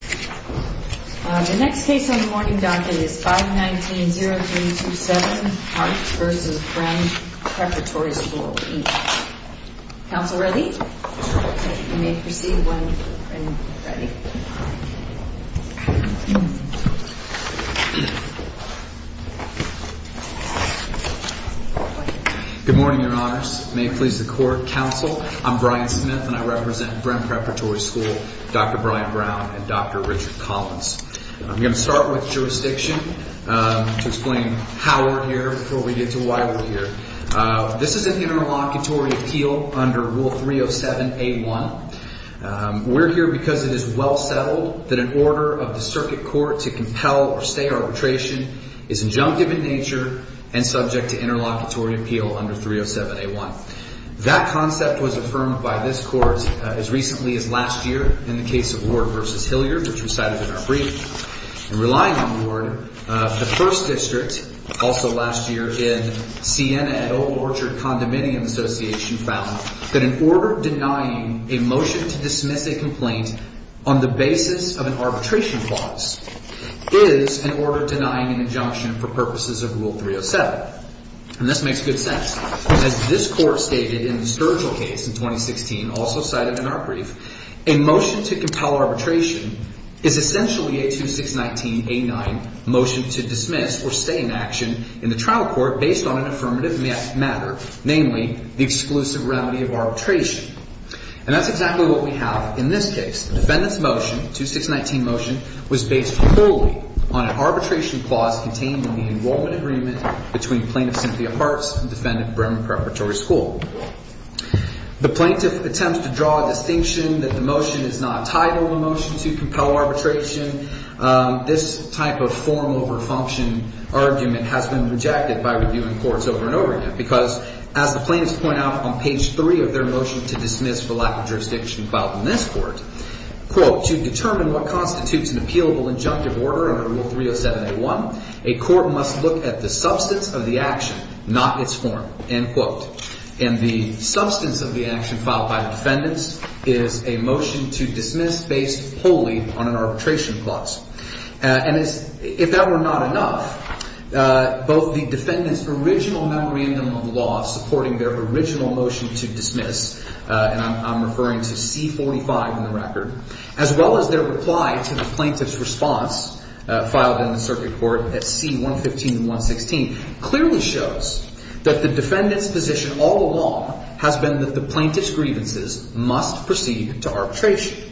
The next case on the morning docket is 519-0327 Hartz v. Brehm Preparatory School, Inc. Counsel ready? You may proceed when ready. Good morning, Your Honors. May it please the Court, Counsel, I'm Brian Smith and I represent Brehm Preparatory School, Dr. Brian Brown and Dr. Richard Collins. I'm going to start with jurisdiction to explain how we're here before we get to why we're here. This is an interlocutory appeal under Rule 307-A1. We're here because it is well settled that an order of the circuit court to compel or stay arbitration is injunctive in nature and subject to interlocutory appeal under 307-A1. That concept was affirmed by this Court as recently as last year in the case of Ward v. Hilliard, which was cited in our briefing. In relying on Ward, the First District, also last year in Siena and Old Orchard Condominium Association, found that an order denying a motion to dismiss a complaint on the basis of an arbitration clause is an order denying an injunction for purposes of Rule 307. And this makes good sense. As this Court stated in the Sturgill case in 2016, also cited in our brief, a motion to compel arbitration is essentially a 2619-A9 motion to dismiss or stay in action in the trial court based on an affirmative matter, namely the exclusive remedy of arbitration. And that's exactly what we have in this case. The defendant's motion, 2619 motion, was based wholly on an arbitration clause contained in the enrollment agreement between Plaintiff Cynthia Parks and Defendant Bremen Preparatory School. The plaintiff attempts to draw a distinction that the motion is not a title of a motion to compel arbitration. This type of form over function argument has been rejected by reviewing courts over and over again because, as the plaintiffs point out on page three of their motion to dismiss for lack of jurisdiction filed in this court, quote, to determine what constitutes an appealable injunctive order under Rule 307-A1, a court must look at the substance of the action, not its form, end quote. And the substance of the action filed by the defendants is a motion to dismiss based wholly on an arbitration clause. And if that were not enough, both the defendant's original memorandum of law supporting their original motion to dismiss, and I'm referring to C45 in the record, as well as their reply to the plaintiff's response filed in the circuit court at C115 and 116, clearly shows that the defendant's position all along has been that the plaintiff's grievances must proceed to arbitration.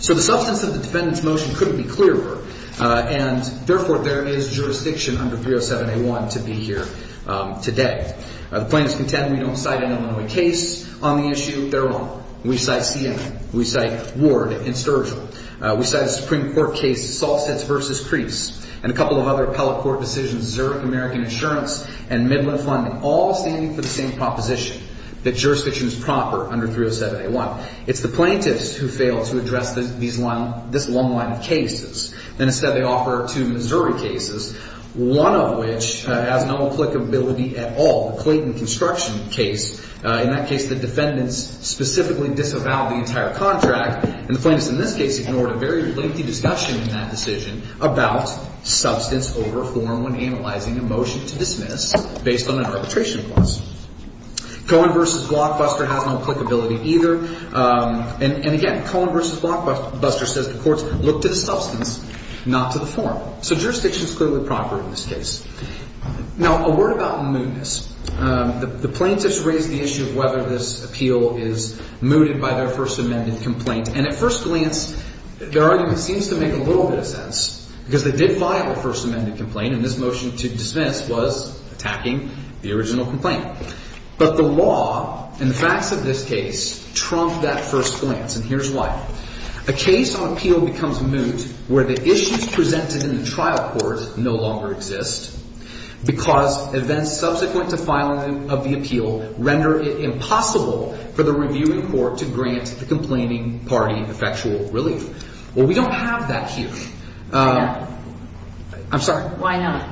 So the substance of the defendant's motion couldn't be clearer. And, therefore, there is jurisdiction under 307-A1 to be here today. The plaintiffs contend we don't cite an Illinois case on the issue. They're wrong. We cite CNN. We cite Ward and Sturgill. We cite a Supreme Court case, Salsitz v. Crease, and a couple of other appellate court decisions, Zurich American Insurance and Midland Fund, all standing for the same proposition, that jurisdiction is proper under 307-A1. It's the plaintiffs who fail to address this long line of cases. And, instead, they offer two Missouri cases, one of which has no applicability at all, the Clayton Construction case. In that case, the defendants specifically disavowed the entire contract, and the plaintiffs in this case ignored a very lengthy discussion in that decision about substance over form when analyzing a motion to dismiss based on an arbitration clause. Cohen v. Blockbuster has no applicability either. And, again, Cohen v. Blockbuster says the courts look to the substance, not to the form. So jurisdiction is clearly proper in this case. Now, a word about mootness. The plaintiffs raised the issue of whether this appeal is mooted by their First Amendment complaint. And, at first glance, their argument seems to make a little bit of sense, because they did file a First Amendment complaint, and this motion to dismiss was attacking the original complaint. But the law and the facts of this case trump that first glance, and here's why. A case on appeal becomes moot where the issues presented in the trial court no longer exist, because events subsequent to filing of the appeal render it impossible for the reviewing court to grant the complaining party effectual relief. Well, we don't have that here. Why not? I'm sorry. Why not?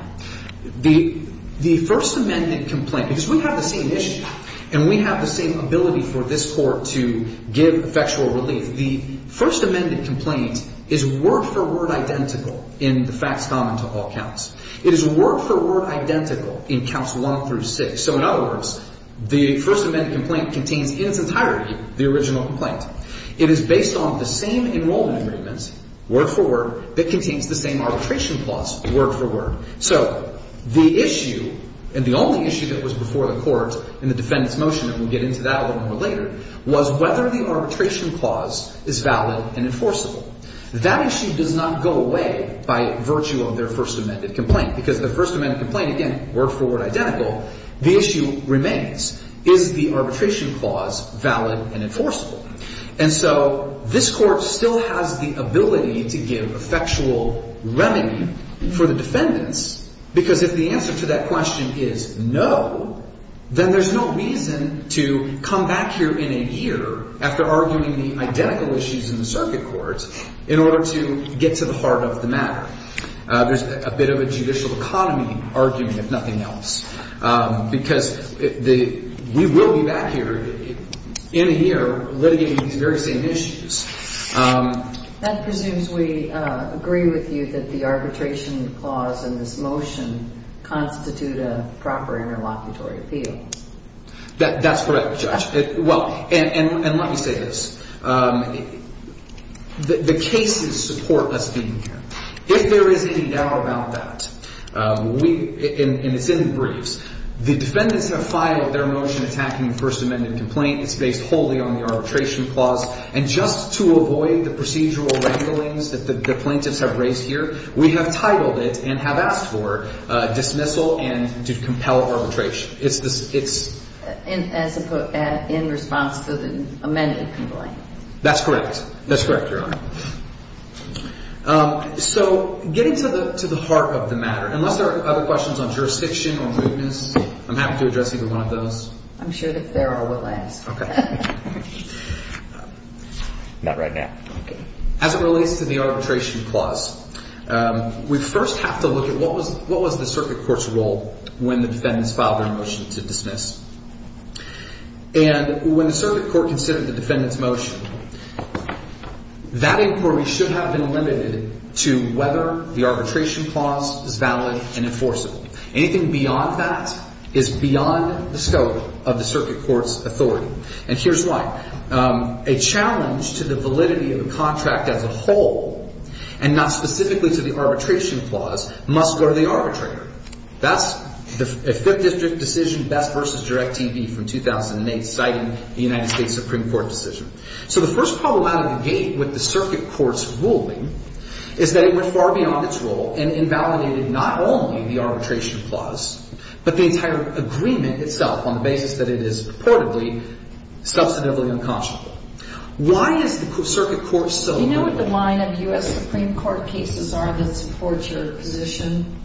The First Amendment complaint, because we have the same issue, and we have the same ability for this court to give effectual relief, the First Amendment complaint is word-for-word identical in the facts common to all counts. It is word-for-word identical in counts 1 through 6. So, in other words, the First Amendment complaint contains in its entirety the original complaint. It is based on the same enrollment agreements, word-for-word, that contains the same arbitration clause, word-for-word. So the issue, and the only issue that was before the court in the defendant's motion, and we'll get into that a little more later, was whether the arbitration clause is valid and enforceable. That issue does not go away by virtue of their First Amendment complaint, because the First Amendment complaint, again, word-for-word identical. The issue remains, is the arbitration clause valid and enforceable? And so this court still has the ability to give effectual remedy for the defendants, because if the answer to that question is no, then there's no reason to come back here in a year after arguing the identical issues in the circuit courts in order to get to the heart of the matter. There's a bit of a judicial economy argument, if nothing else, because we will be back here in a year litigating these very same issues. That presumes we agree with you that the arbitration clause in this motion constitute a proper interlocutory appeal. That's correct, Judge. Well, and let me say this. The cases support us being here. If there is any doubt about that, and it's in the briefs, the defendants have filed their motion attacking the First Amendment complaint. It's based wholly on the arbitration clause. And just to avoid the procedural wranglings that the plaintiffs have raised here, we have titled it and have asked for dismissal and to compel arbitration. In response to the amended complaint? That's correct. That's correct, Your Honor. So getting to the heart of the matter, unless there are other questions on jurisdiction or mootness, I'm happy to address either one of those. I'm sure that Farrell will ask. Okay. Not right now. As it relates to the arbitration clause, we first have to look at what was the circuit court's role when the defendants filed their motion to dismiss. And when the circuit court considered the defendant's motion, that inquiry should have been limited to whether the arbitration clause is valid and enforceable. Anything beyond that is beyond the scope of the circuit court's authority. And here's why. A challenge to the validity of the contract as a whole, and not specifically to the arbitration clause, must go to the arbitrator. That's a Fifth District decision, Best v. Direct TV from 2008, citing the United States Supreme Court decision. So the first problem out of the gate with the circuit court's ruling is that it went far beyond its role and invalidated not only the arbitration clause, but the entire agreement itself on the basis that it is purportedly substantively unconscionable. Why is the circuit court so— Do you know what the line of U.S. Supreme Court cases are that support your position?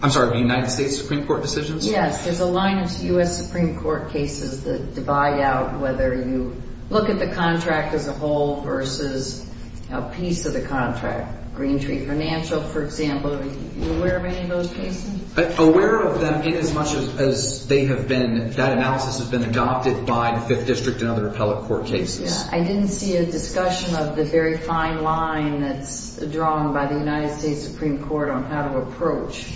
I'm sorry, the United States Supreme Court decisions? Yes, there's a line of U.S. Supreme Court cases that divide out whether you look at the contract as a whole versus a piece of the contract. Green Tree Financial, for example, are you aware of any of those cases? Aware of them inasmuch as they have been—that analysis has been adopted by the Fifth District and other appellate court cases. I didn't see a discussion of the very fine line that's drawn by the United States Supreme Court on how to approach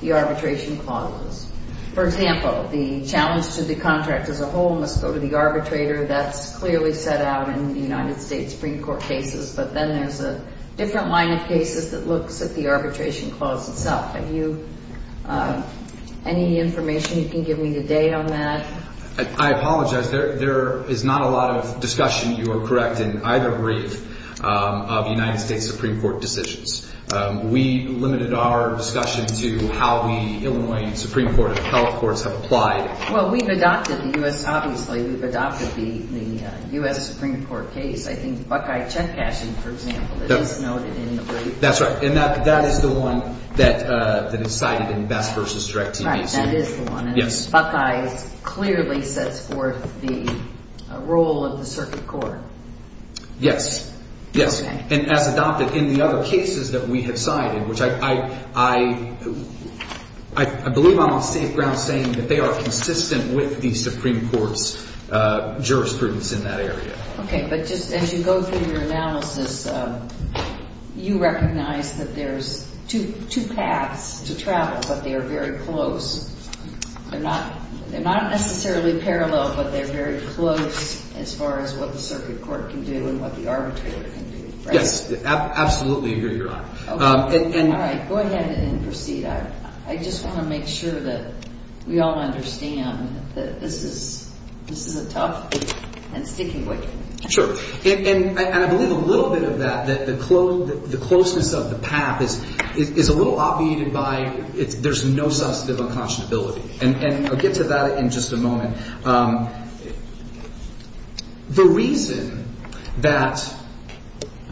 the arbitration clauses. For example, the challenge to the contract as a whole must go to the arbitrator. That's clearly set out in the United States Supreme Court cases, but then there's a different line of cases that looks at the arbitration clause itself. Have you—any information you can give me today on that? I apologize. There is not a lot of discussion, you are correct, in either brief of United States Supreme Court decisions. We limited our discussion to how the Illinois Supreme Court and appellate courts have applied. Well, we've adopted the U.S.—obviously, we've adopted the U.S. Supreme Court case. I think Buckeye check cashing, for example, it is noted in the brief. That's right, and that is the one that is cited in BESS versus DREC TV. That is the one, and Buckeye clearly sets forth the role of the circuit court. Yes, yes, and as adopted in the other cases that we have cited, which I believe I'm on safe ground saying that they are consistent with the Supreme Court's jurisprudence in that area. Okay, but just as you go through your analysis, you recognize that there's two paths to travel, but they are very close. They're not necessarily parallel, but they're very close as far as what the circuit court can do and what the arbitrator can do, right? Yes, absolutely, you're right. All right, go ahead and proceed. I just want to make sure that we all understand that this is a tough and sticky one. Sure, and I believe a little bit of that, that the closeness of the path is a little obviated by there's no substantive unconscionability, and I'll get to that in just a moment. The reason that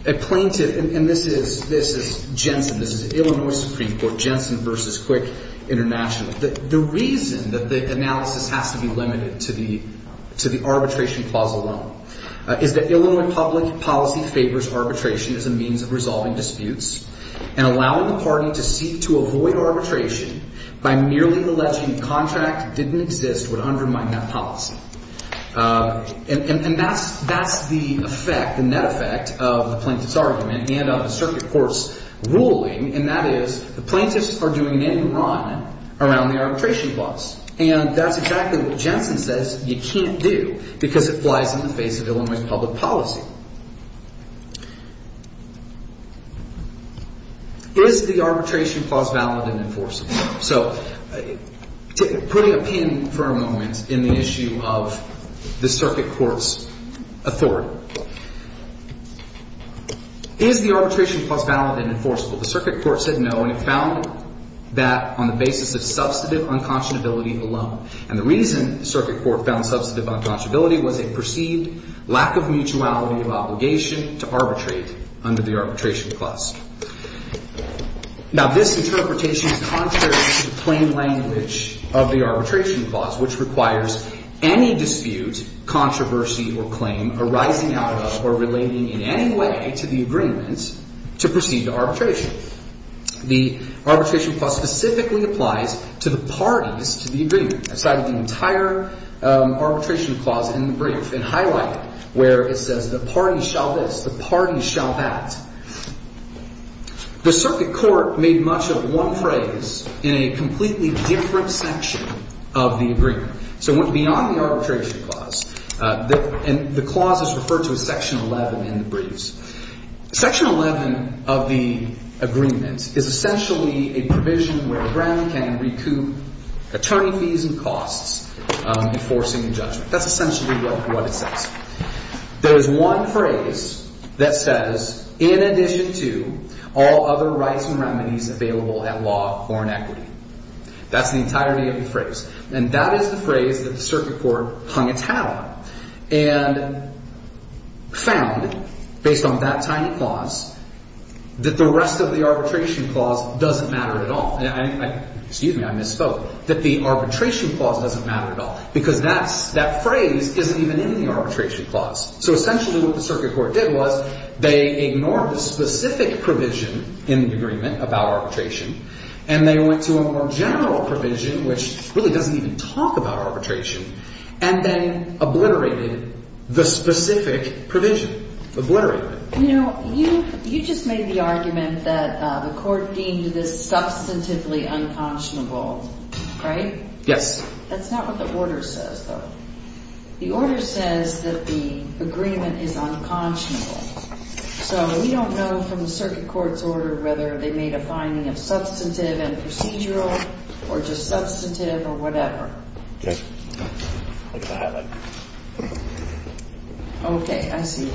a plaintiff, and this is Jensen, this is Illinois Supreme Court, Jensen versus Quick International. The reason that the analysis has to be limited to the arbitration clause alone is that Illinois public policy favors arbitration as a means of resolving disputes, and allowing the party to seek to avoid arbitration by merely alleging contract didn't exist would undermine that policy. And that's the effect, the net effect of the plaintiff's argument and of the circuit court's ruling, and that is the plaintiffs are doing an end run around the arbitration clause. And that's exactly what Jensen says you can't do because it flies in the face of Illinois public policy. Is the arbitration clause valid and enforceable? So putting a pin for a moment in the issue of the circuit court's authority, is the arbitration clause valid and enforceable? The circuit court said no, and it found that on the basis of substantive unconscionability alone. And the reason the circuit court found substantive unconscionability was a perceived lack of mutuality of obligation to arbitrate under the arbitration clause. Now, this interpretation is contrary to the plain language of the arbitration clause, which requires any dispute, controversy, or claim arising out of or relating in any way to the agreement to proceed to arbitration. The arbitration clause specifically applies to the parties to the agreement. I cited the entire arbitration clause in the brief and highlighted where it says the parties shall this, the parties shall that. The circuit court made much of one phrase in a completely different section of the agreement. So it went beyond the arbitration clause, and the clause is referred to as section 11 in the briefs. Section 11 of the agreement is essentially a provision where a branch can recoup attorney fees and costs enforcing the judgment. That's essentially what it says. There is one phrase that says, in addition to all other rights and remedies available at law of foreign equity. And that is the phrase that the circuit court hung its hat on and found, based on that tiny clause, that the rest of the arbitration clause doesn't matter at all. Excuse me. I misspoke. That the arbitration clause doesn't matter at all because that phrase isn't even in the arbitration clause. So essentially what the circuit court did was they ignored the specific provision in the agreement about arbitration, and they went to a more general provision, which really doesn't even talk about arbitration, and then obliterated the specific provision. Obliterated it. You know, you just made the argument that the court deemed this substantively unconscionable, right? Yes. That's not what the order says, though. The order says that the agreement is unconscionable. So we don't know from the circuit court's order whether they made a finding of substantive and procedural or just substantive or whatever. Okay. I'll get the hat back. Okay. I see.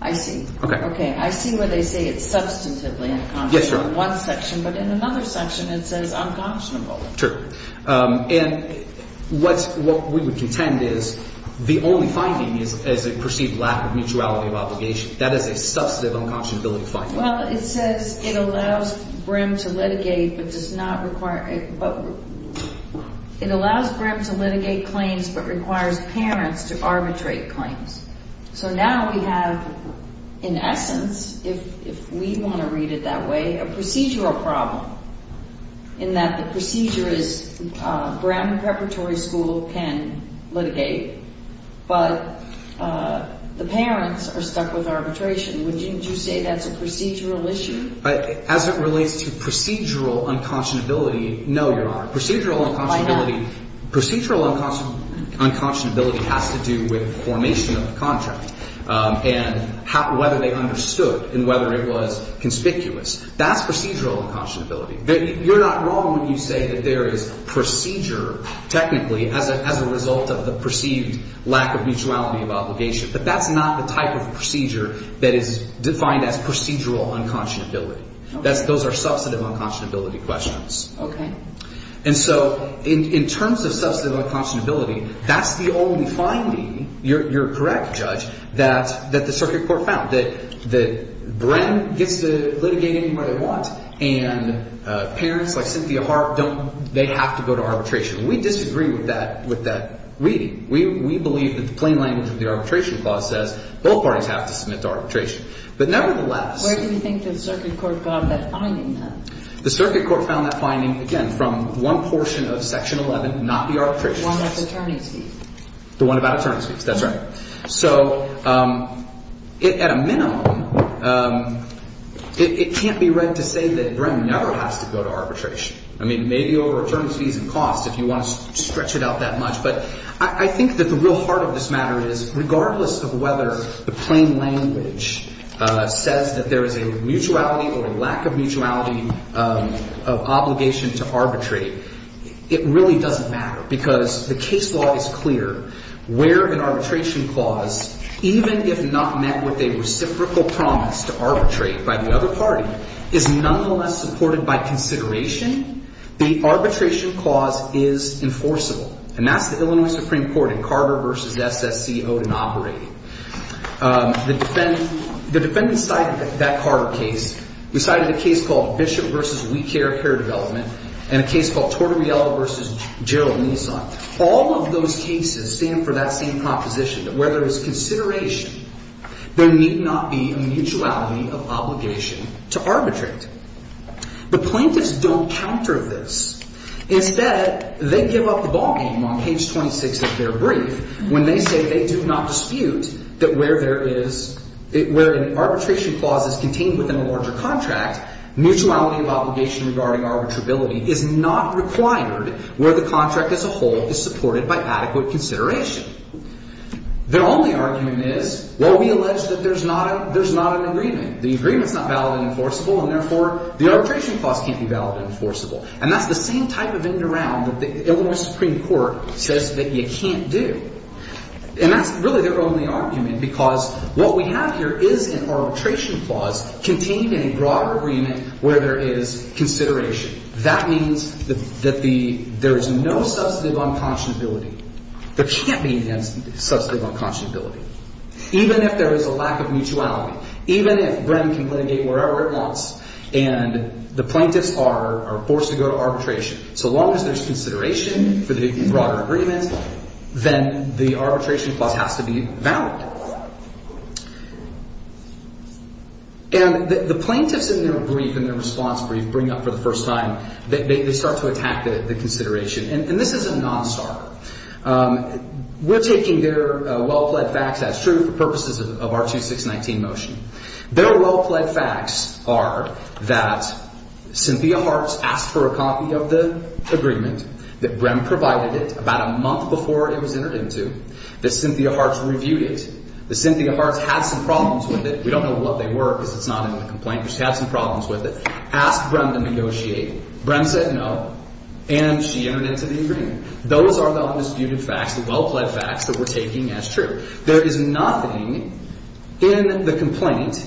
I see. Okay. I see where they say it's substantively unconscionable in one section, but in another section it says unconscionable. True. And what we would contend is the only finding is a perceived lack of mutuality of obligation. That is a substantive unconscionability finding. Well, it says it allows Brim to litigate but does not require – it allows Brim to litigate claims but requires parents to arbitrate claims. So now we have, in essence, if we want to read it that way, a procedural problem in that the procedure is Brim Preparatory School can litigate, but the parents are stuck with arbitration. Wouldn't you say that's a procedural issue? As it relates to procedural unconscionability, no, Your Honor. Procedural unconscionability has to do with formation of the contract and whether they understood and whether it was conspicuous. That's procedural unconscionability. You're not wrong when you say that there is procedure, technically, as a result of the perceived lack of mutuality of obligation, but that's not the type of procedure that is defined as procedural unconscionability. Those are substantive unconscionability questions. Okay. And so in terms of substantive unconscionability, that's the only finding – you're correct, Judge – that the circuit court found, that Brim gets to litigate anywhere they want and parents like Cynthia Harp don't – they have to go to arbitration. We disagree with that reading. We believe that the plain language of the arbitration clause says both parties have to submit to arbitration. But nevertheless – Where do you think the circuit court got that finding then? The circuit court found that finding, again, from one portion of Section 11, not the arbitration clause. The one about attorney's fees. The one about attorney's fees. That's right. So at a minimum, it can't be right to say that Brim never has to go to arbitration. I mean, maybe over attorney's fees and costs if you want to stretch it out that much, but I think that the real heart of this matter is regardless of whether the plain language says that there is a mutuality or a lack of mutuality of obligation to arbitrate, it really doesn't matter because the case law is clear. Where an arbitration clause, even if not met with a reciprocal promise to arbitrate by the other party, is nonetheless supported by consideration, the arbitration clause is enforceable. And that's the Illinois Supreme Court in Carter v. SSC-Odin operating. The defendants cited that Carter case. We cited a case called Bishop v. We Care Care Development and a case called Tortorella v. Gerald Nissan. All of those cases stand for that same proposition that where there is consideration, there need not be a mutuality of obligation to arbitrate. But plaintiffs don't counter this. Instead, they give up the ballgame on page 26 of their brief when they say they do not dispute that where there is – where an arbitration clause is contained within a larger contract, mutuality of obligation regarding arbitrability is not required where the contract as a whole is supported by adequate consideration. Their only argument is, well, we allege that there's not a – there's not an agreement. The agreement's not valid and enforceable, and therefore, the arbitration clause can't be valid and enforceable. And that's the same type of in and around that the Illinois Supreme Court says that you can't do. And that's really their only argument because what we have here is an arbitration clause contained in a broader agreement where there is consideration. That means that the – there is no substantive unconscionability. There can't be a substantive unconscionability. Even if there is a lack of mutuality, even if Brennan can litigate wherever it wants and the plaintiffs are forced to go to arbitration, so long as there's consideration for the broader agreement, then the arbitration clause has to be valid. And the plaintiffs in their brief, in their response brief, bring up for the first time – they start to attack the consideration. And this is a nonstarter. We're taking their well-pled facts as true for purposes of our 2619 motion. Their well-pled facts are that Cynthia Hartz asked for a copy of the agreement that Brehm provided it about a month before it was entered into. That Cynthia Hartz reviewed it. That Cynthia Hartz had some problems with it. We don't know what they were because it's not in the complaint, but she had some problems with it. Asked Brehm to negotiate. Brehm said no, and she entered into the agreement. Those are the undisputed facts, the well-pled facts that we're taking as true. There is nothing in the complaint,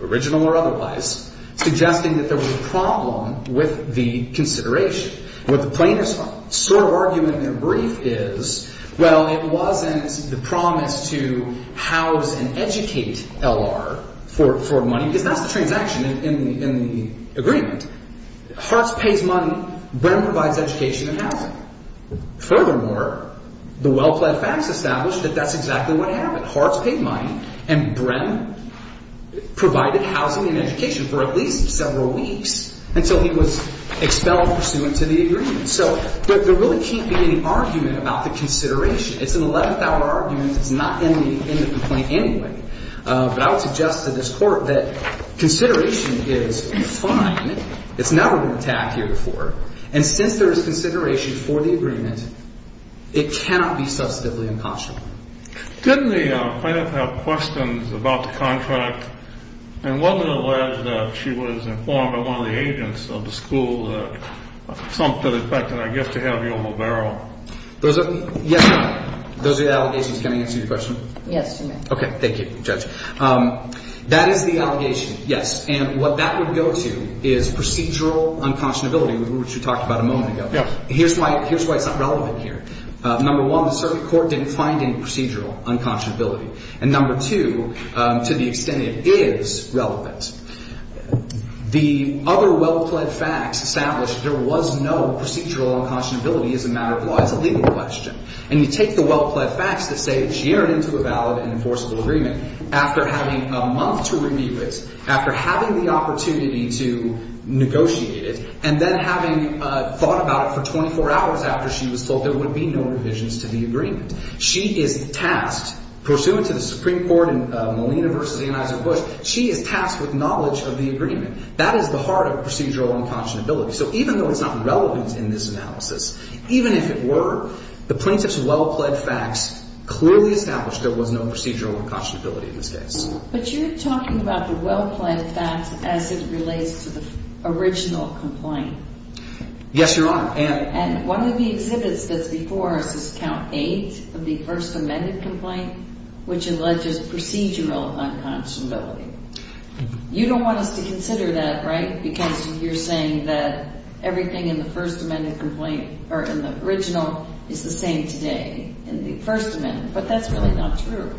original or otherwise, suggesting that there was a problem with the consideration. What the plaintiffs' sort of argument in their brief is, well, it wasn't the promise to house and educate L.R. for money, because that's the transaction in the agreement. Hartz pays money. Brehm provides education and housing. Furthermore, the well-pled facts establish that that's exactly what happened. Hartz paid money, and Brehm provided housing and education for at least several weeks until he was expelled pursuant to the agreement. So there really can't be any argument about the consideration. It's an 11th-hour argument. It's not in the complaint anyway. But I would suggest to this Court that consideration is fine. It's never been attacked here before. And since there is consideration for the agreement, it cannot be substantively unconscionable. Didn't the plaintiff have questions about the contract? And wasn't it alleged that she was informed by one of the agents of the school that something affected her gift to have you on the barrel? Those are the allegations. Can I answer your question? Yes, you may. Okay. Thank you, Judge. That is the allegation, yes. And what that would go to is procedural unconscionability, which we talked about a moment ago. Here's why it's not relevant here. Number one, the circuit court didn't find any procedural unconscionability. And number two, to the extent it is relevant, the other well-pled facts establish there was no procedural unconscionability as a matter of law. It's a legal question. And you take the well-pled facts that say that she earned into a valid and enforceable agreement after having a month to review it, after having the opportunity to negotiate it, and then having thought about it for 24 hours after she was told there would be no revisions to the agreement. She is tasked, pursuant to the Supreme Court in Molina v. Anheuser-Busch, she is tasked with knowledge of the agreement. That is the heart of procedural unconscionability. So even though it's not relevant in this analysis, even if it were, the plaintiff's well-pled facts clearly establish there was no procedural unconscionability in this case. But you're talking about the well-pled facts as it relates to the original complaint. Yes, Your Honor. And one of the exhibits that's before us is count eight of the first amended complaint, which alleges procedural unconscionability. You don't want us to consider that, right? Because you're saying that everything in the first amended complaint or in the original is the same today in the first amendment. But that's really not true.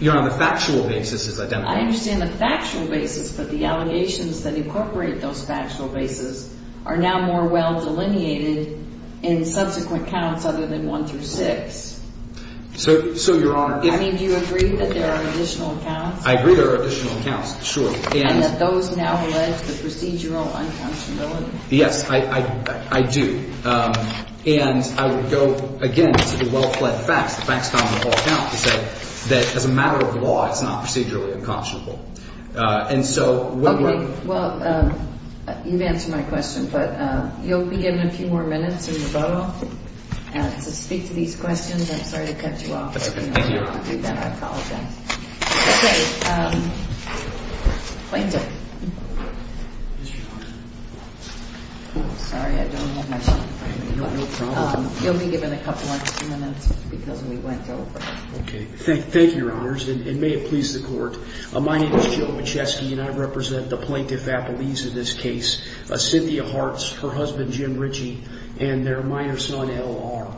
Your Honor, the factual basis is identical. I understand the factual basis, but the allegations that incorporate those factual basis are now more well delineated in subsequent counts other than one through six. So, Your Honor. I mean, do you agree that there are additional counts? I agree there are additional counts. Sure. And that those now allege the procedural unconscionability? Yes, I do. And I would go, again, to the well-pled facts. The facts on the whole count to say that as a matter of law, it's not procedurally unconscionable. And so when we're – Okay. Well, you've answered my question. But you'll be given a few more minutes, and you're brought up to speak to these questions. I'm sorry to cut you off. That's okay. Thank you, Your Honor. I apologize. Okay. Plaintiff. Yes, Your Honor. Sorry, I don't have much time. No problem. You'll be given a couple extra minutes because we went over. Okay. Thank you, Your Honors. And may it please the Court. My name is Joe Bochesky, and I represent the Plaintiff Appellees in this case, Cynthia Hartz, her husband, Jim Ritchie, and their minor son, L.R.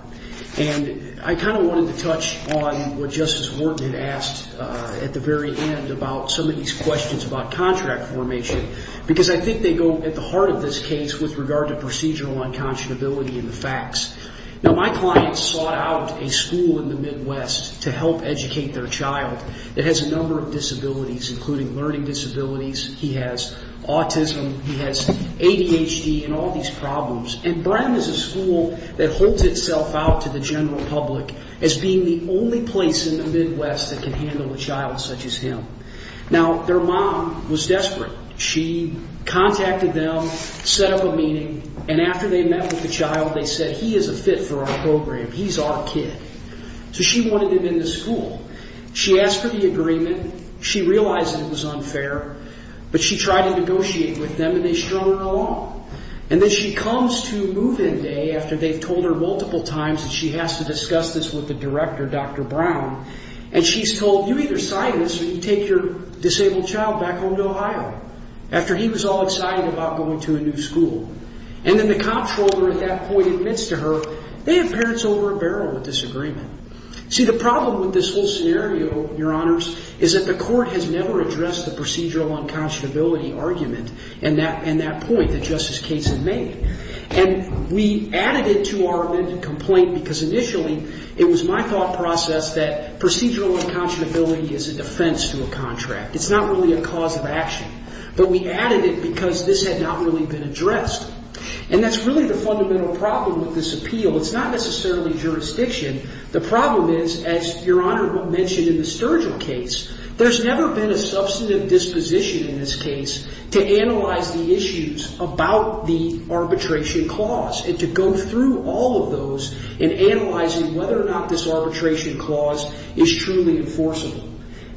And I kind of wanted to touch on what Justice Sotomayor said. And I think Justice Wharton had asked at the very end about some of these questions about contract formation because I think they go at the heart of this case with regard to procedural unconscionability and the facts. Now, my client sought out a school in the Midwest to help educate their child that has a number of disabilities, including learning disabilities. He has autism. He has ADHD and all these problems. And Brown is a school that holds itself out to the general public as being the only place in the Midwest that can handle a child such as him. Now, their mom was desperate. She contacted them, set up a meeting, and after they met with the child, they said, he is a fit for our program. He's our kid. So she wanted him in the school. She asked for the agreement. She realized that it was unfair, but she tried to negotiate with them, and they strung her along. And then she comes to move-in day after they've told her multiple times that she has to discuss this with the director, Dr. Brown, and she's told, you either sign this or you take your disabled child back home to Ohio, after he was all excited about going to a new school. And then the comptroller at that point admits to her, they have parents over a barrel with this agreement. See, the problem with this whole scenario, Your Honors, is that the court has never addressed the procedural unconscionability argument and that point that Justice Cates had made. And we added it to our amended complaint because initially, it was my thought process that procedural unconscionability is a defense to a contract. It's not really a cause of action. But we added it because this had not really been addressed. And that's really the fundamental problem with this appeal. It's not necessarily jurisdiction. The problem is, as Your Honor mentioned in the Sturgill case, there's never been a substantive disposition in this case to analyze the issues about the arbitration clause and to go through all of those in analyzing whether or not this arbitration clause is truly enforceable.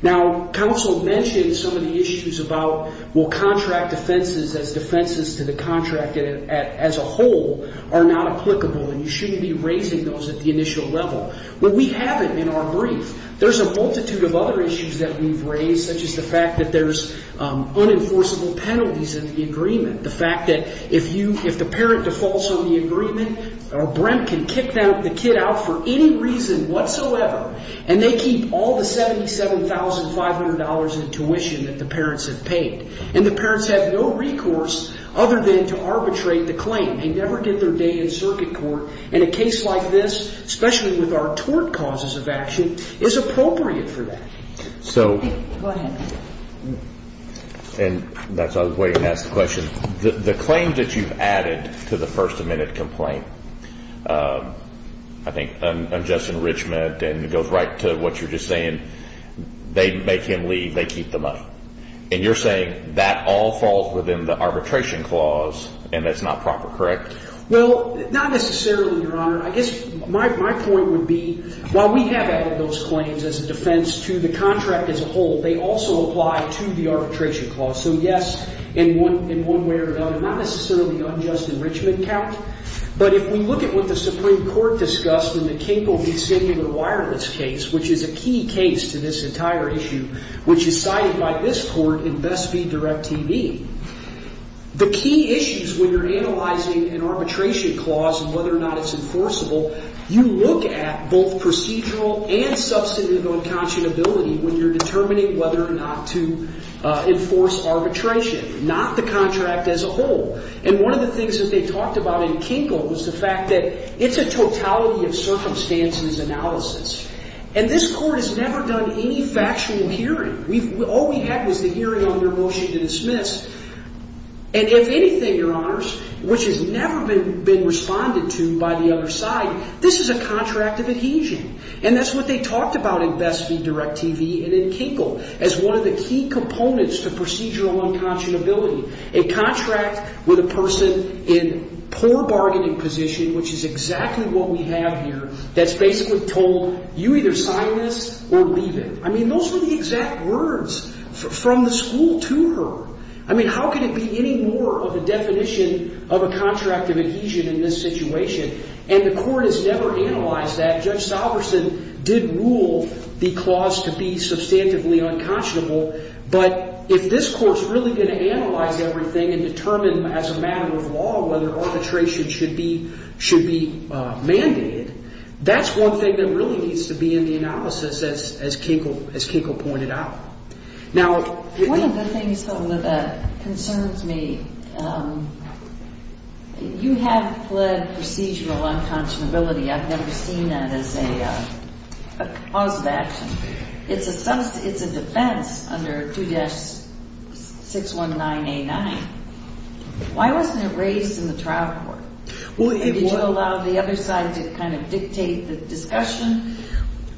Now, counsel mentioned some of the issues about, well, contract defenses as defenses to the contract as a whole are not applicable and you shouldn't be raising those at the initial level. Well, we haven't in our brief. There's a multitude of other issues that we've raised, such as the fact that there's unenforceable penalties in the agreement, the fact that if the parent defaults on the agreement, Brent can kick the kid out for any reason whatsoever, and they keep all the $77,500 in tuition that the parents have paid. And the parents have no recourse other than to arbitrate the claim. They never did their day in circuit court, and a case like this, especially with our client, is appropriate for that. So... Go ahead. And that's why I was waiting to ask the question. The claim that you've added to the first amendment complaint, I think unjust enrichment and it goes right to what you're just saying. They make him leave. They keep the money. And you're saying that all falls within the arbitration clause and that's not proper, correct? Well, not necessarily, Your Honor. I guess my point would be, while we have added those claims as a defense to the contract as a whole, they also apply to the arbitration clause. So yes, in one way or another, not necessarily unjust enrichment count, but if we look at what the Supreme Court discussed in the Kingpol v. City of the Wireless case, which is a key case to this entire issue, which is cited by this court in Best v. Direct TV, the key issues when you're analyzing an arbitration clause and whether or not it's enforceable, you look at both procedural and substantive unconscionability when you're determining whether or not to enforce arbitration, not the contract as a whole. And one of the things that they talked about in Kingpol was the fact that it's a totality of circumstances analysis. And this court has never done any factual hearing. All we had was the hearing on your motion to dismiss. And if anything, Your Honors, which has never been responded to by the other side, this is a contract of adhesion. And that's what they talked about in Best v. Direct TV and in Kingpol as one of the key components to procedural unconscionability, a contract with a person in poor bargaining position, which is exactly what we have here, that's basically told, you either sign this or leave it. I mean, those were the exact words from the school to her. I mean, how can it be any more of a definition of a contract of adhesion in this situation? And the court has never analyzed that. Judge Salverson did rule the clause to be substantively unconscionable. But if this court's really going to analyze everything and determine as a matter of law whether arbitration should be mandated, that's one thing that really needs to be in the analysis as Kingpol pointed out. One of the things that concerns me, you have pled procedural unconscionability. I've never seen that as a cause of action. It's a defense under 2-619A9. Why wasn't it raised in the trial court? Did you allow the other side to kind of dictate the discussion?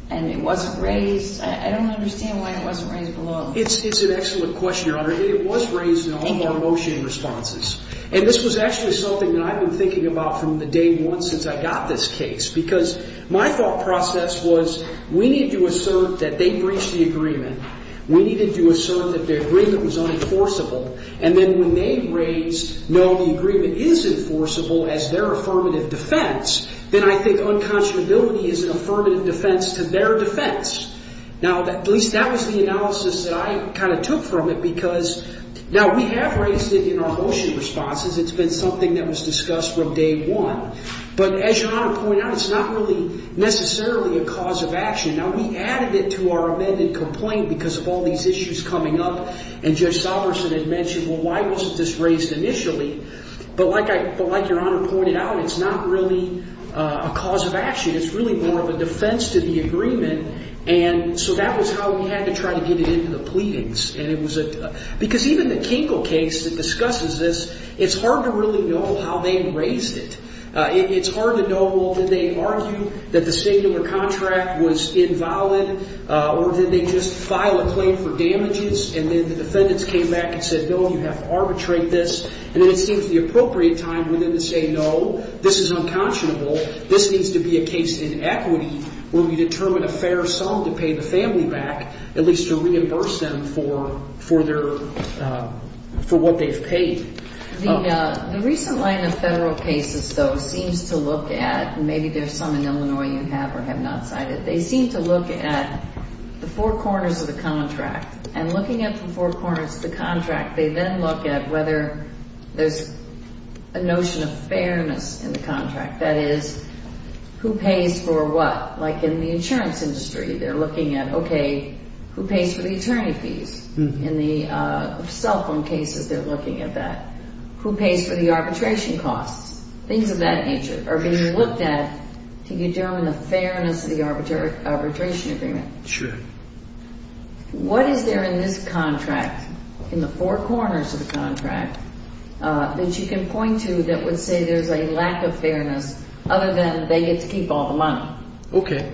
And it wasn't raised? I don't understand why it wasn't raised at all. It's an excellent question, Your Honor. It was raised in all of our motion responses. And this was actually something that I've been thinking about from day one since I got this case. Because my thought process was we need to assert that they breached the agreement. We needed to assert that the agreement was unenforceable. And then when they raised, no, the agreement is enforceable as their affirmative defense, then I think unconscionability is an affirmative defense to their defense. Now, at least that was the analysis that I kind of took from it. Now, we have raised it in our motion responses. It's been something that was discussed from day one. But as Your Honor pointed out, it's not really necessarily a cause of action. Now, we added it to our amended complaint because of all these issues coming up. And Judge Salverson had mentioned, well, why wasn't this raised initially? But like Your Honor pointed out, it's not really a cause of action. It's really more of a defense to the agreement. And so that was how we had to try to get it into the pleadings. Because even the Kinkle case that discusses this, it's hard to really know how they raised it. It's hard to know, well, did they argue that the state of the contract was invalid? Or did they just file a claim for damages? And then the defendants came back and said, no, you have to arbitrate this. And then it seems the appropriate time for them to say, no, this is unconscionable. This needs to be a case in equity where we determine a fair sum to pay the family back, at least to reimburse them for what they've paid. The recent line of federal cases, though, seems to look at, and maybe there's some in Illinois you have or have not cited, they seem to look at the four corners of the contract. And looking at the four corners of the contract, they then look at whether there's a notion of fairness in the contract. That is, who pays for what? Like in the insurance industry, they're looking at, okay, who pays for the attorney fees? In the cell phone cases, they're looking at that. Who pays for the arbitration costs? Things of that nature are being looked at to determine the fairness of the arbitration agreement. Sure. What is there in this contract, in the four corners of the contract, that you can point to that would say there's a lack of fairness other than they get to keep all the money? Okay.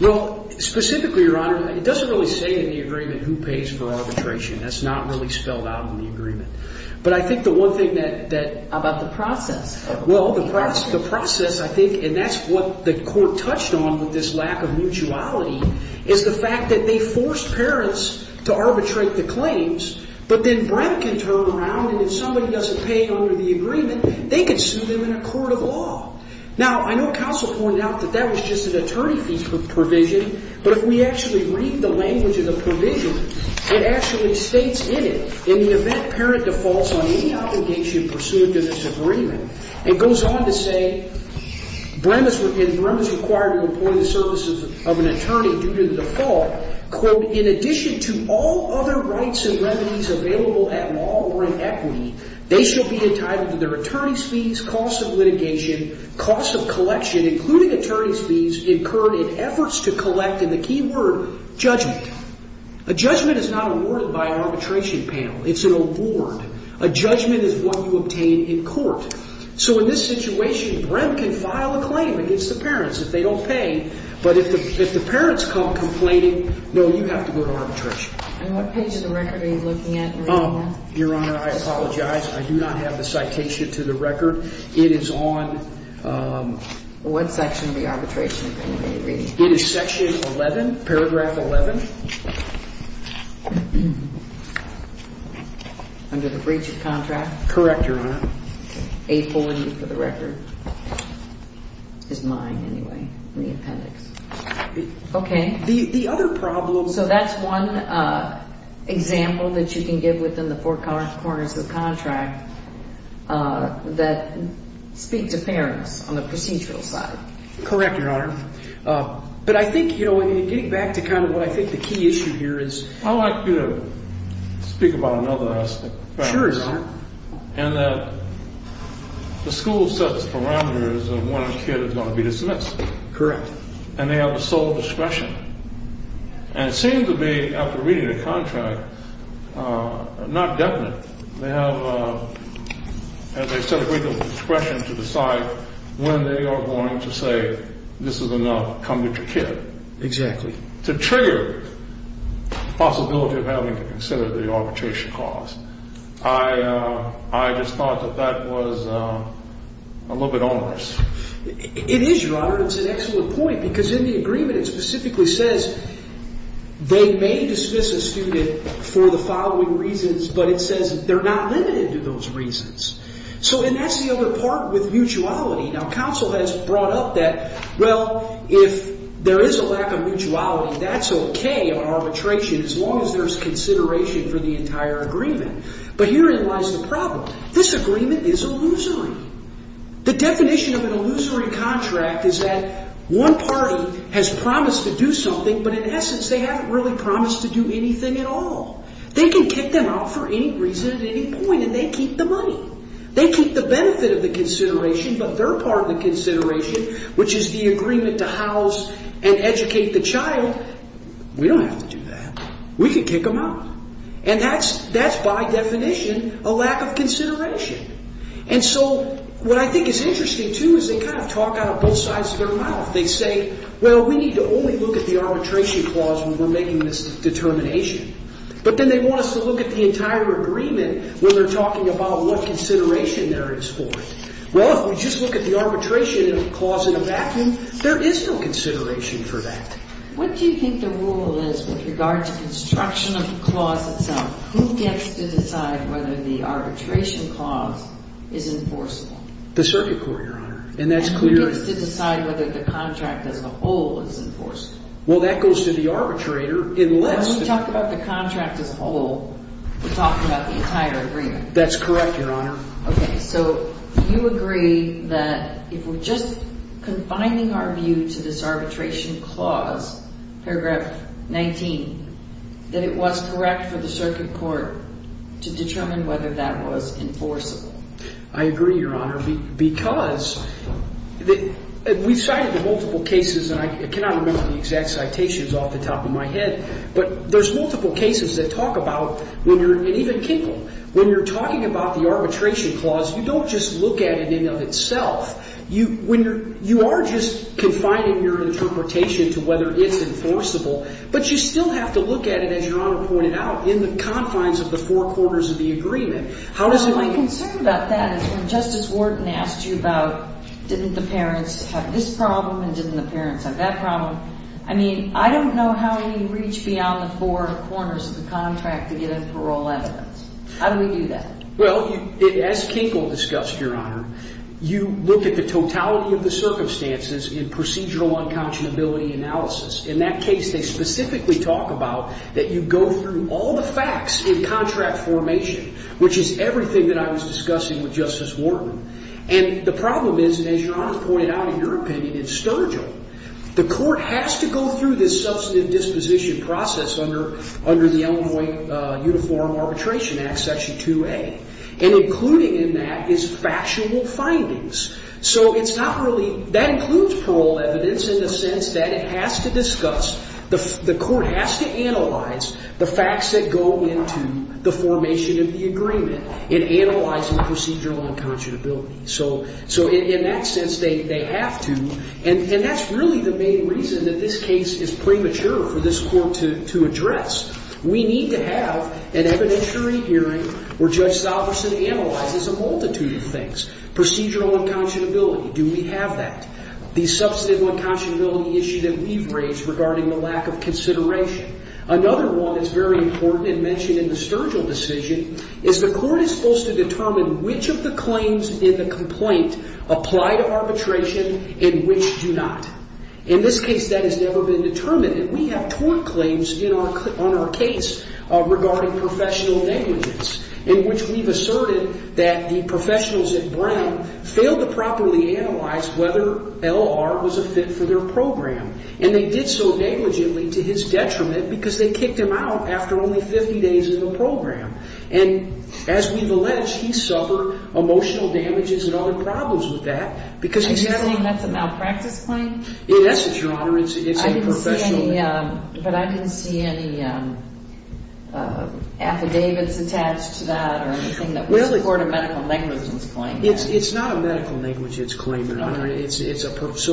Well, specifically, Your Honor, it doesn't really say in the agreement who pays for arbitration. That's not really spelled out in the agreement. But I think the one thing that... About the process. Well, the process, I think, and that's what the court touched on with this lack of mutuality, is the fact that they forced parents to arbitrate the claims, but then Brent can turn around and if somebody doesn't pay under the agreement, they can sue them in a court of law. Now, I know counsel pointed out that that was just an attorney fee provision, but if we actually read the language of the provision, it actually states in it, in the event parent defaults on any obligation pursued in this agreement, it goes on to say, Brent is required to employ the services of an attorney due to the default, quote, in addition to all other rights and remedies available at law or in equity, they shall be entitled to their attorney's fees, cost of litigation, cost of collection, including attorney's fees incurred in efforts to collect, and the key word, judgment. A judgment is not awarded by arbitration panel. It's an award. A judgment is what you obtain in court. So in this situation, Brent can file a claim against the parents if they don't pay, but if the parents come complaining, no, you have to go to arbitration. And what page of the record are you looking at? Your Honor, I apologize. I do not have the citation to the record. It is on... What section of the arbitration panel are you reading? It is section 11, paragraph 11. Under the breach of contract? Correct, Your Honor. 840 for the record. It's mine, anyway, in the appendix. Okay. The other problem... So that's one example that you can give within the four corners of the contract that speaks to parents on the procedural side. Correct, Your Honor. But I think, you know, getting back to kind of what I think the key issue here is... I'd like you to speak about another aspect. Sure, Your Honor. And that the school sets parameters of when a kid is going to be dismissed. Correct. And they have sole discretion. And it seems to me, after reading the contract, not definite. They have, as I said, a great deal of discretion to decide when they are going to say, this is enough, come get your kid. Exactly. To trigger the possibility of having to consider the arbitration cost. I just thought that that was a little bit onerous. It is, Your Honor. It's an excellent point. Because in the agreement, it specifically says they may dismiss a student for the following reasons, but it says they're not limited to those reasons. So, and that's the other part with mutuality. Now, counsel has brought up that, well, if there is a lack of mutuality, that's okay on arbitration, as long as there's consideration for the entire agreement. But herein lies the problem. This agreement is illusory. The definition of an illusory contract is that one party has promised to do something, but in essence, they haven't really promised to do anything at all. They can kick them out for any reason at any point, and they keep the money. They keep the benefit of the consideration, but their part of the consideration, which is the agreement to house and educate the child, we don't have to do that. We can kick them out. And that's, by definition, a lack of consideration. And so, what I think is interesting, too, is they kind of talk out of both sides of their mouth. They say, well, we need to only look at the arbitration clause when we're making this determination. But then they want us to look at the entire agreement when they're talking about what consideration there is for it. Well, if we just look at the arbitration clause in a vacuum, there is no consideration for that. What do you think the rule is with regard to construction of the clause itself? Who gets to decide whether the arbitration clause is enforceable? The circuit court, Your Honor. And who gets to decide whether the contract as a whole is enforceable? Well, that goes to the arbitrator. When we talk about the contract as a whole, we're talking about the entire agreement. That's correct, Your Honor. Okay, so you agree that if we're just confining our view to this arbitration clause, paragraph 19, that it was correct for the circuit court to determine whether that was enforceable. I agree, Your Honor, because we've cited multiple cases, and I cannot remember the exact citations off the top of my head, but there's multiple cases that talk about when you're, and even Kinkle, when you're talking about the arbitration clause, you don't just look at it in and of itself. You are just confining your interpretation to whether it's enforceable, but you still have to look at it, as Your Honor pointed out, in the confines of the four quarters of the agreement. My concern about that is when Justice Wharton asked you about didn't the parents have this problem and didn't the parents have that problem, I mean, I don't know how you reach beyond the four corners of the contract to get a parole evidence. How do we do that? Well, as Kinkle discussed, Your Honor, you look at the totality of the circumstances in procedural unconscionability analysis. In that case, they specifically talk about that you go through all the facts in contract formation, which is everything that I was discussing with Justice Wharton. And the problem is, as Your Honor pointed out in your opinion, in Sturgill, the court has to go through this substantive disposition process under the Illinois Uniform Arbitration Act, Section 2A, and including in that is factual findings. So it's not really, that includes parole evidence in the sense that it has to discuss, the court has to analyze the facts that go into the formation of the agreement in analyzing procedural unconscionability. So in that sense, they have to, and that's really the main reason that this case is premature for this court to address. We need to have an evidentiary hearing where Judge Salverson analyzes a multitude of things. Procedural unconscionability, do we have that? The substantive unconscionability issue that we've raised regarding the lack of consideration. Another one that's very important and mentioned in the Sturgill decision is the court is supposed to determine which of the claims in the complaint apply to arbitration and which do not. In this case, that has never been determined. And we have tort claims on our case regarding professional negligence in which we've asserted that the professionals at Brown failed to properly analyze whether L.R. was a fit for their program. And they did so negligently to his detriment because they kicked him out after only 50 days of the program. And as we've alleged, he suffered emotional damages and other problems with that because he's had a... Are you saying that's a malpractice claim? In essence, Your Honor, it's a professional negligence. But I didn't see any affidavits attached to that or anything that would support a medical negligence claim. It's not a medical negligence claim, Your Honor. So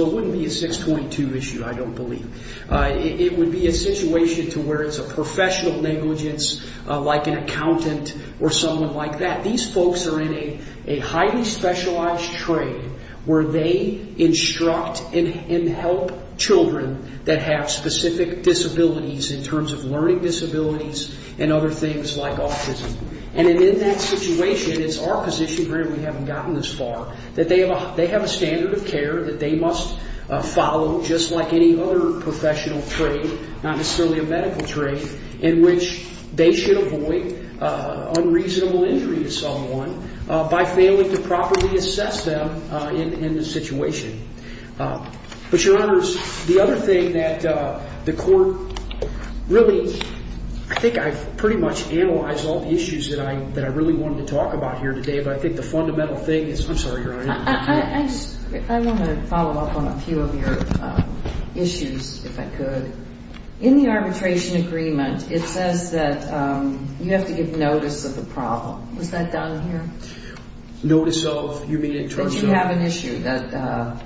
it wouldn't be a 622 issue, I don't believe. It would be a situation to where it's a professional negligence like an accountant or someone like that. These folks are in a highly specialized trade where they instruct and help children that have specific disabilities in terms of learning disabilities and other things like autism. And in that situation, it's our position here, we haven't gotten this far, that they have a standard of care that they must follow just like any other professional trade, not necessarily a medical trade, in which they should avoid unreasonable injury to someone by failing to properly assess them in the situation. But, Your Honors, the other thing that the court really... I think I've pretty much analyzed all the issues that I really wanted to talk about here today, but I think the fundamental thing is... I'm sorry, Your Honor. I just want to follow up on a few of your issues, if I could. In the arbitration agreement, it says that you have to give notice of the problem. Was that done here? Notice of? You mean in terms of? That you have an issue that...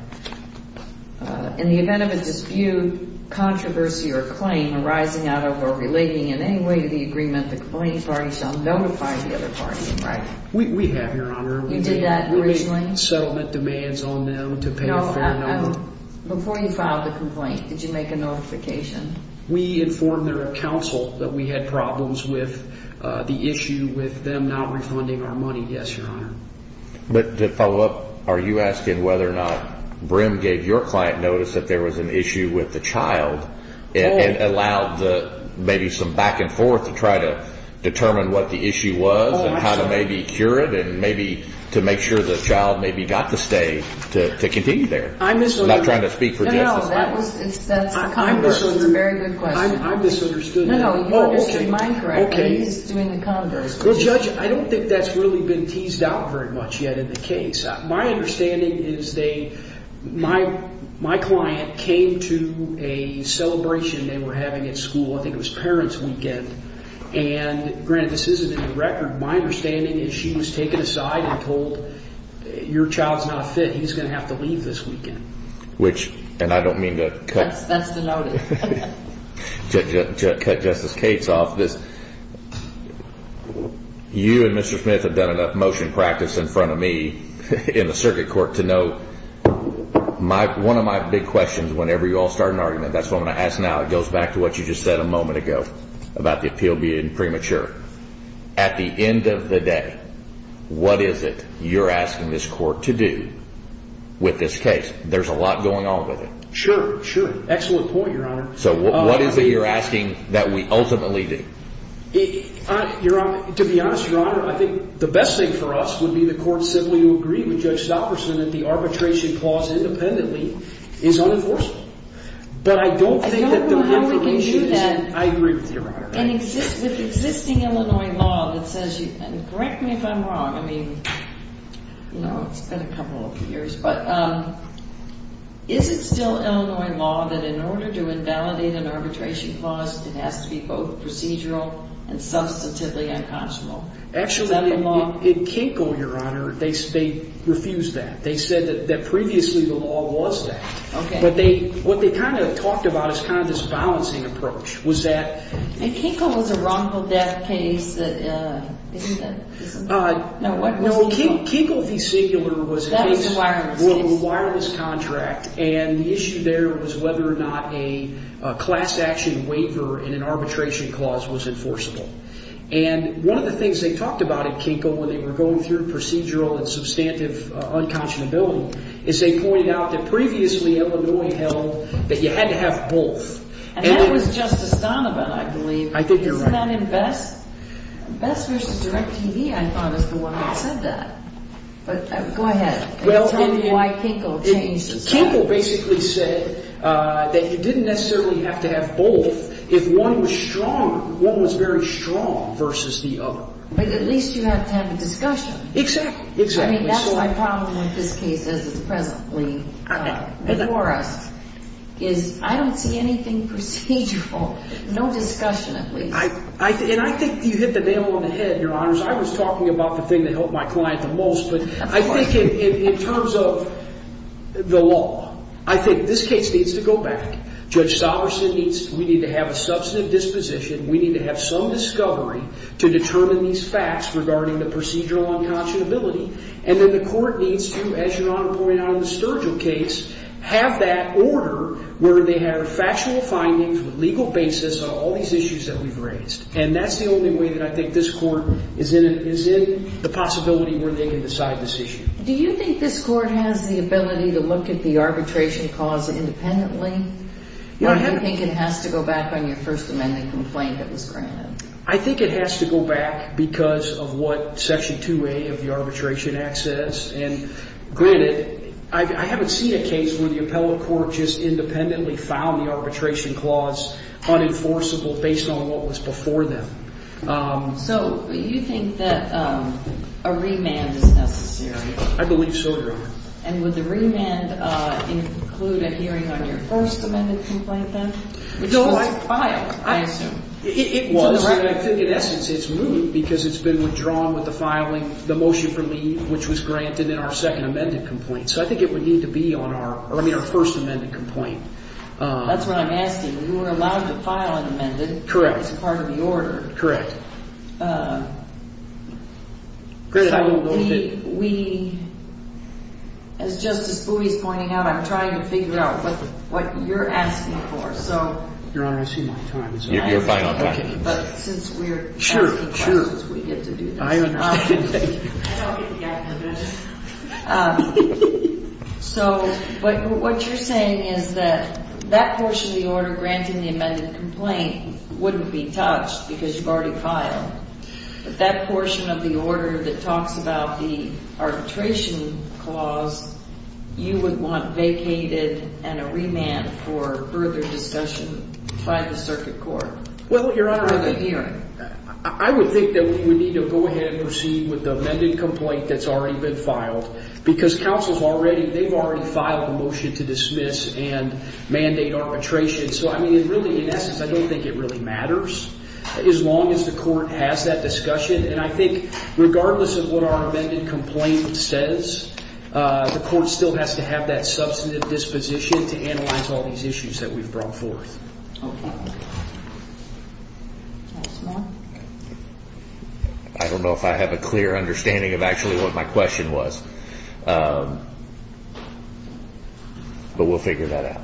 In the event of a dispute, controversy, or claim arising out of or relating in any way to the agreement, the complaining party shall notify the other party in writing. We have, Your Honor. You did that originally? We made settlement demands on them to pay a fair number. Before you filed the complaint, did you make a notification? We informed their counsel that we had problems with the issue with them not refunding our money, yes, Your Honor. But to follow up, are you asking whether or not Brim gave your client notice that there was an issue with the child and allowed maybe some back and forth to try to determine what the issue was and how to maybe cure it and maybe to make sure the child maybe got to stay to continue there? I'm misunderstanding. I'm not trying to speak for justice. No, no, that's a very good question. I'm misunderstood. No, no, you understood mine correctly. He's doing the converse. Judge, I don't think that's really been teased out very much yet in the case. My understanding is my client came to a celebration they were having at school. I think it was parents' weekend. And granted, this isn't in the record. My understanding is she was taken aside and told, your child's not fit, he's going to have to leave this weekend. And I don't mean to cut Justice Cates off this. You and Mr. Smith have done enough motion practice in front of me in the circuit court to know one of my big questions whenever you all start an argument, that's what I'm going to ask now, it goes back to what you just said a moment ago about the appeal being premature. At the end of the day, what is it you're asking this court to do with this case? There's a lot going on with it. Sure, sure. Excellent point, Your Honor. So what is it you're asking that we ultimately do? Your Honor, to be honest, Your Honor, I think the best thing for us would be the court simply to agree with Judge Stopperson that the arbitration clause independently is unenforceable. But I don't think that the implementation is. I don't know how we can do that. I agree with you, Your Honor. With existing Illinois law that says, and correct me if I'm wrong, I mean, you know, it's been a couple of years, but is it still Illinois law that in order to invalidate an arbitration clause it has to be both procedural and substantively unconscionable? Actually, it can't go, Your Honor. They refuse that. They said that previously the law was that. Okay. But what they kind of talked about is kind of this balancing approach was that. Kinkle was a wrongful death case. Isn't that? No, Kinkle v. Sigler was a case. That was a wireless case. Well, a wireless contract. And the issue there was whether or not a class action waiver in an arbitration clause was enforceable. And one of the things they talked about at Kinkle when they were going through procedural and substantive unconscionability is they pointed out that previously Illinois held that you had to have both. And that was Justice Donovan, I believe. I think you're right. Isn't that in Best? Best v. DirecTV, I thought, is the one that said that. But go ahead and tell me why Kinkle changed his mind. Kinkle basically said that you didn't necessarily have to have both. If one was strong, one was very strong versus the other. But at least you have to have a discussion. Exactly. I mean, that's my problem with this case as it's presently before us, is I don't see anything procedural. No discussion, at least. And I think you hit the nail on the head, Your Honors. I was talking about the thing that helped my client the most. But I think in terms of the law, I think this case needs to go back. Judge Sollerson needs to have a substantive disposition. We need to have some discovery to determine these facts regarding the procedural unconscionability. And then the court needs to, as Your Honor pointed out in the Sturgill case, have that order where they have factual findings with legal basis on all these issues that we've raised. And that's the only way that I think this court is in the possibility where they can decide this issue. Do you think this court has the ability to look at the arbitration cause independently? No, I haven't. Or do you think it has to go back on your First Amendment complaint that was granted? I think it has to go back because of what Section 2A of the Arbitration Act says. And granted, I haven't seen a case where the appellate court just independently found the arbitration clause unenforceable based on what was before them. So you think that a remand is necessary? I believe so, Your Honor. And would the remand include a hearing on your First Amendment complaint, then? Which was filed, I assume. It was. And I think, in essence, it's moved because it's been withdrawn with the filing of the motion for leave, which was granted in our Second Amendment complaint. So I think it would need to be on our First Amendment complaint. That's what I'm asking. You were allowed to file an amendment. Correct. As part of the order. Correct. So we, as Justice Spooley is pointing out, I'm trying to figure out what you're asking for. Your Honor, I see my time is up. Your final time. Okay. But since we're asking questions, we get to do this. Sure, sure. I don't get to get in the middle. So what you're saying is that that portion of the order granting the amended complaint wouldn't be touched because you've already filed. But that portion of the order that talks about the arbitration clause, you would want vacated and a remand for further discussion by the circuit court. Well, Your Honor, I would think that we need to go ahead and proceed with the amended complaint that's already been filed because they've already filed a motion to dismiss and mandate arbitration. So, I mean, really, in essence, I don't think it really matters as long as the court has that discussion. And I think regardless of what our amended complaint says, the court still has to have that substantive disposition to analyze all these issues that we've brought forth. Okay. Anything else? I don't know if I have a clear understanding of actually what my question was. But we'll figure that out.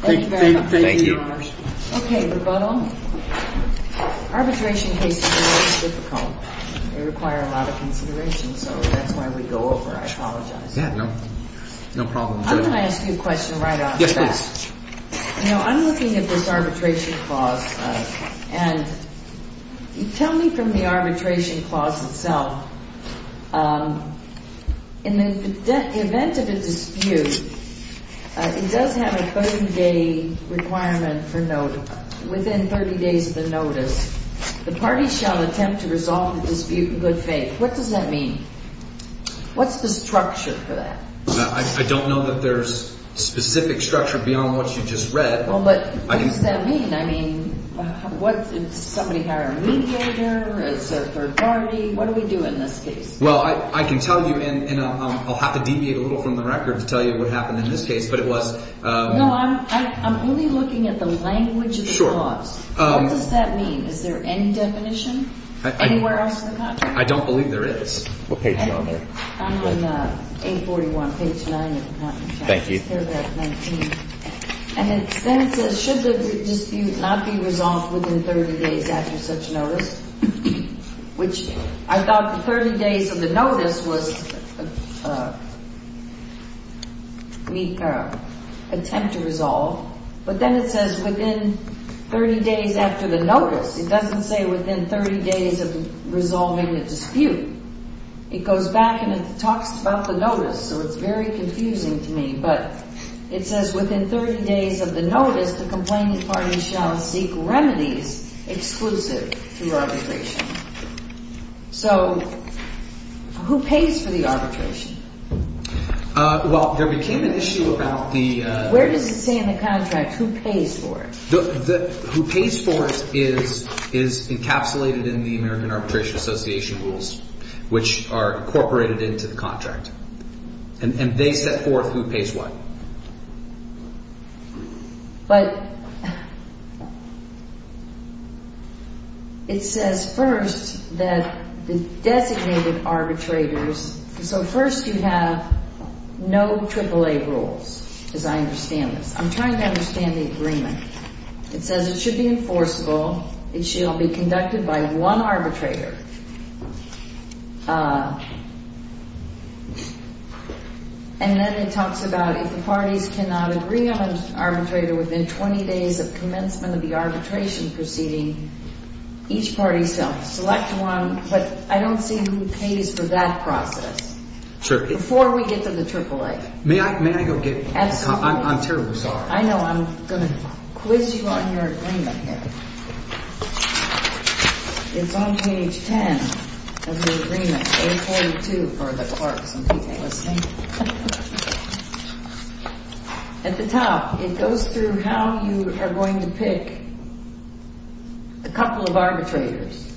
Thank you very much. Thank you. Okay, Rebuttal. Arbitration cases are very difficult. They require a lot of consideration. So that's why we go over. I apologize. Yeah, no problem. I'm going to ask you a question right off the bat. Yes, please. You know, I'm looking at this arbitration clause. And tell me from the arbitration clause itself, in the event of a dispute, it does have a 30-day requirement for notice. Within 30 days of the notice, the party shall attempt to resolve the dispute in good faith. What does that mean? What's the structure for that? I don't know that there's specific structure beyond what you just read. Well, but what does that mean? I mean, somebody hired a mediator, it's a third party. What do we do in this case? Well, I can tell you, and I'll have to deviate a little from the record to tell you what happened in this case, but it was. No, I'm only looking at the language of the clause. Sure. What does that mean? Is there any definition anywhere else in the content? I don't believe there is. What page are you on there? I'm on 841, page 9, if you want me to. Thank you. It's paragraph 19. And then it says, should the dispute not be resolved within 30 days after such notice, which I thought the 30 days of the notice was an attempt to resolve, but then it says within 30 days after the notice. It doesn't say within 30 days of resolving the dispute. It goes back and it talks about the notice, so it's very confusing to me, but it says within 30 days of the notice, the complainant party shall seek remedies exclusive to arbitration. So who pays for the arbitration? Well, there became an issue about the... Where does it say in the contract who pays for it? Who pays for it is encapsulated in the American Arbitration Association rules, which are incorporated into the contract, and they set forth who pays what. But it says first that the designated arbitrators... So first you have no AAA rules, as I understand this. I'm trying to understand the agreement. It says it should be enforceable. It shall be conducted by one arbitrator. And then it talks about if the parties cannot agree on an arbitrator within 20 days of commencement of the arbitration proceeding, each party shall select one, but I don't see who pays for that process. Sure. Before we get to the AAA. May I go get... Absolutely. I'm terribly sorry. I know. I'm going to quiz you on your agreement here. It's on page 10 of the agreement. A42 for the courts. At the top, it goes through how you are going to pick a couple of arbitrators.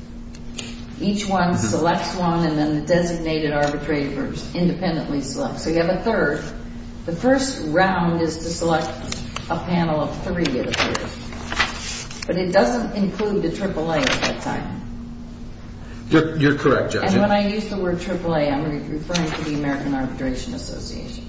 Each one selects one, and then the designated arbitrators independently select. So you have a third. The first round is to select a panel of three, it appears. But it doesn't include the AAA at that time. You're correct, Judge. And when I use the word AAA, I'm referring to the American Arbitration Association.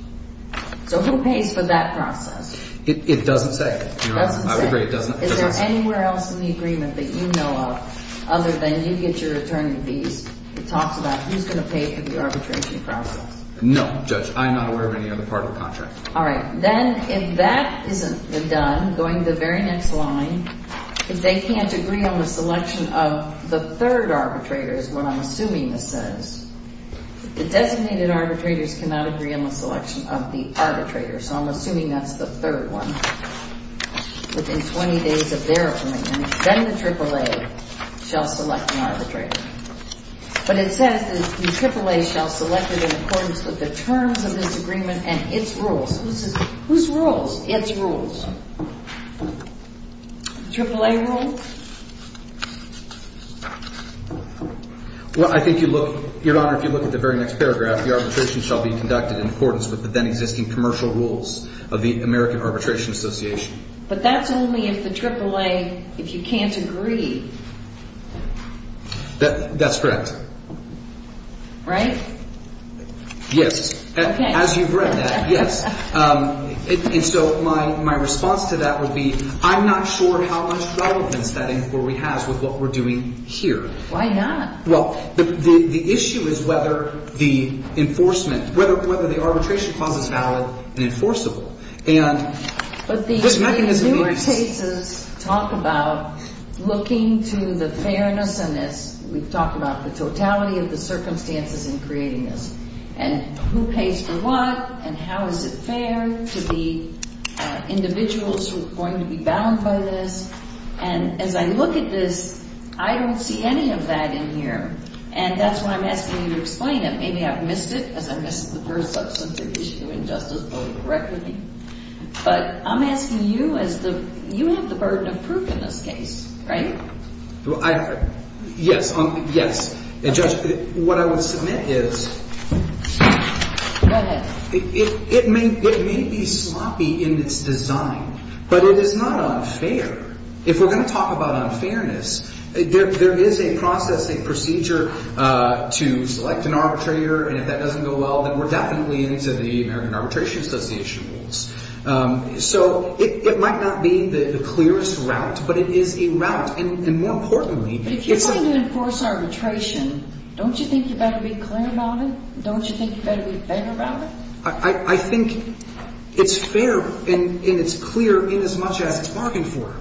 So who pays for that process? It doesn't say. It doesn't say. I would agree it doesn't. Is there anywhere else in the agreement that you know of, other than you get your returning fees, that talks about who's going to pay for the arbitration process? No, Judge. I'm not aware of any other part of the contract. All right. Then, if that isn't done, going to the very next line, if they can't agree on the selection of the third arbitrator, is what I'm assuming this says, the designated arbitrators cannot agree on the selection of the arbitrator. So I'm assuming that's the third one. Within 20 days of their opinion, then the AAA shall select an arbitrator. But it says that the AAA shall select it in accordance with the terms of this agreement and its rules. Whose rules? Its rules. AAA rules? Well, I think you look, Your Honor, if you look at the very next paragraph, the arbitration shall be conducted in accordance with the then existing commercial rules of the American Arbitration Association. But that's only if the AAA, if you can't agree. That's correct. Right? Yes. Okay. As you've read that, yes. And so my response to that would be, I'm not sure how much relevance that inquiry has with what we're doing here. Why not? Well, the issue is whether the enforcement, whether the arbitration clause is valid and enforceable. And this mechanism in this case. But the Newark cases talk about looking to the fairness in this. We've talked about the totality of the circumstances in creating this. And who pays for what? And how is it fair to the individuals who are going to be bound by this? And as I look at this, I don't see any of that in here. And that's why I'm asking you to explain it. Maybe I've missed it because I missed the first substantive issue in Justice Bowie correctly. But I'm asking you as the, you have the burden of proof in this case, right? Well, I, yes. Yes. Judge, what I would submit is. Go ahead. It may be sloppy in its design, but it is not unfair. If we're going to talk about unfairness, there is a process, a procedure to select an arbitrator. And if that doesn't go well, then we're definitely into the American Arbitration Association rules. So it might not be the clearest route, but it is a route. And more importantly. If you're going to enforce arbitration, don't you think you better be clear about it? Don't you think you better be fair about it? I think it's fair and it's clear in as much as it's bargained for.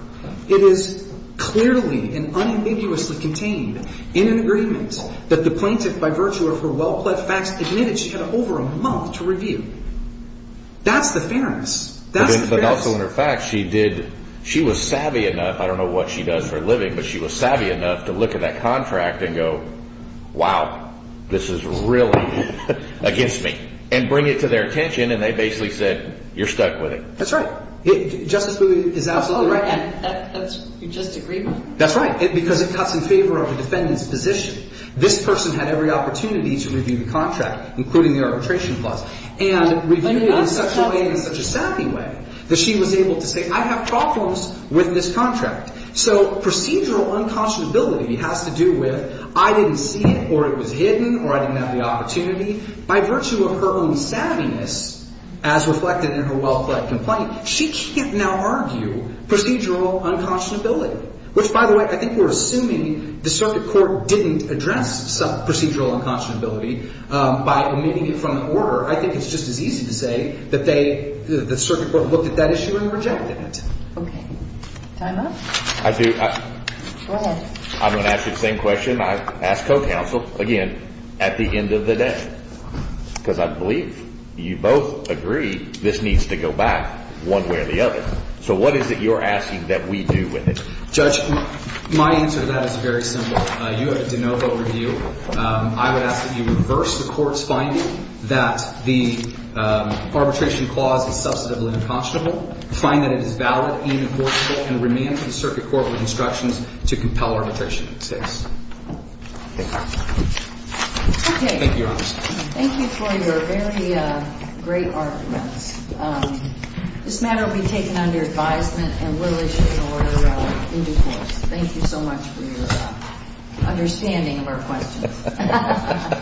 It is clearly and unambiguously contained in an agreement that the plaintiff, by virtue of her well-plaid facts, admitted she had over a month to review. That's the fairness. But also in her facts, she did. She was savvy enough. I don't know what she does for a living, but she was savvy enough to look at that contract and go, wow, this is really against me. And bring it to their attention. And they basically said, you're stuck with it. That's right. Justice Booth is absolutely right. That's just agreement. That's right. Because it cuts in favor of the defendant's position. This person had every opportunity to review the contract, including the arbitration clause. And review it in such a way, in such a savvy way, that she was able to say, I have problems with this contract. So procedural unconscionability has to do with I didn't see it or it was hidden or I didn't have the opportunity. By virtue of her own savviness, as reflected in her well-plaid complaint, she can't now argue procedural unconscionability. Which, by the way, I think we're assuming the circuit court didn't address some procedural unconscionability by omitting it from the order. I think it's just as easy to say that they, the circuit court, looked at that issue and rejected it. Okay. Time up? I do. Go ahead. I'm going to ask you the same question I ask co-counsel, again, at the end of the day. Because I believe you both agree this needs to go back one way or the other. So what is it you're asking that we do with it? Judge, my answer to that is very simple. You have a de novo review. I would ask that you reverse the court's finding that the arbitration clause is substantively unconscionable, find that it is valid, unenforceable, and remand to the circuit court with instructions to compel arbitration in this case. Thank you, Your Honor. Thank you for your very great arguments. This matter will be taken under advisement and we'll issue an order in due course. Thank you so much for your understanding of our questions.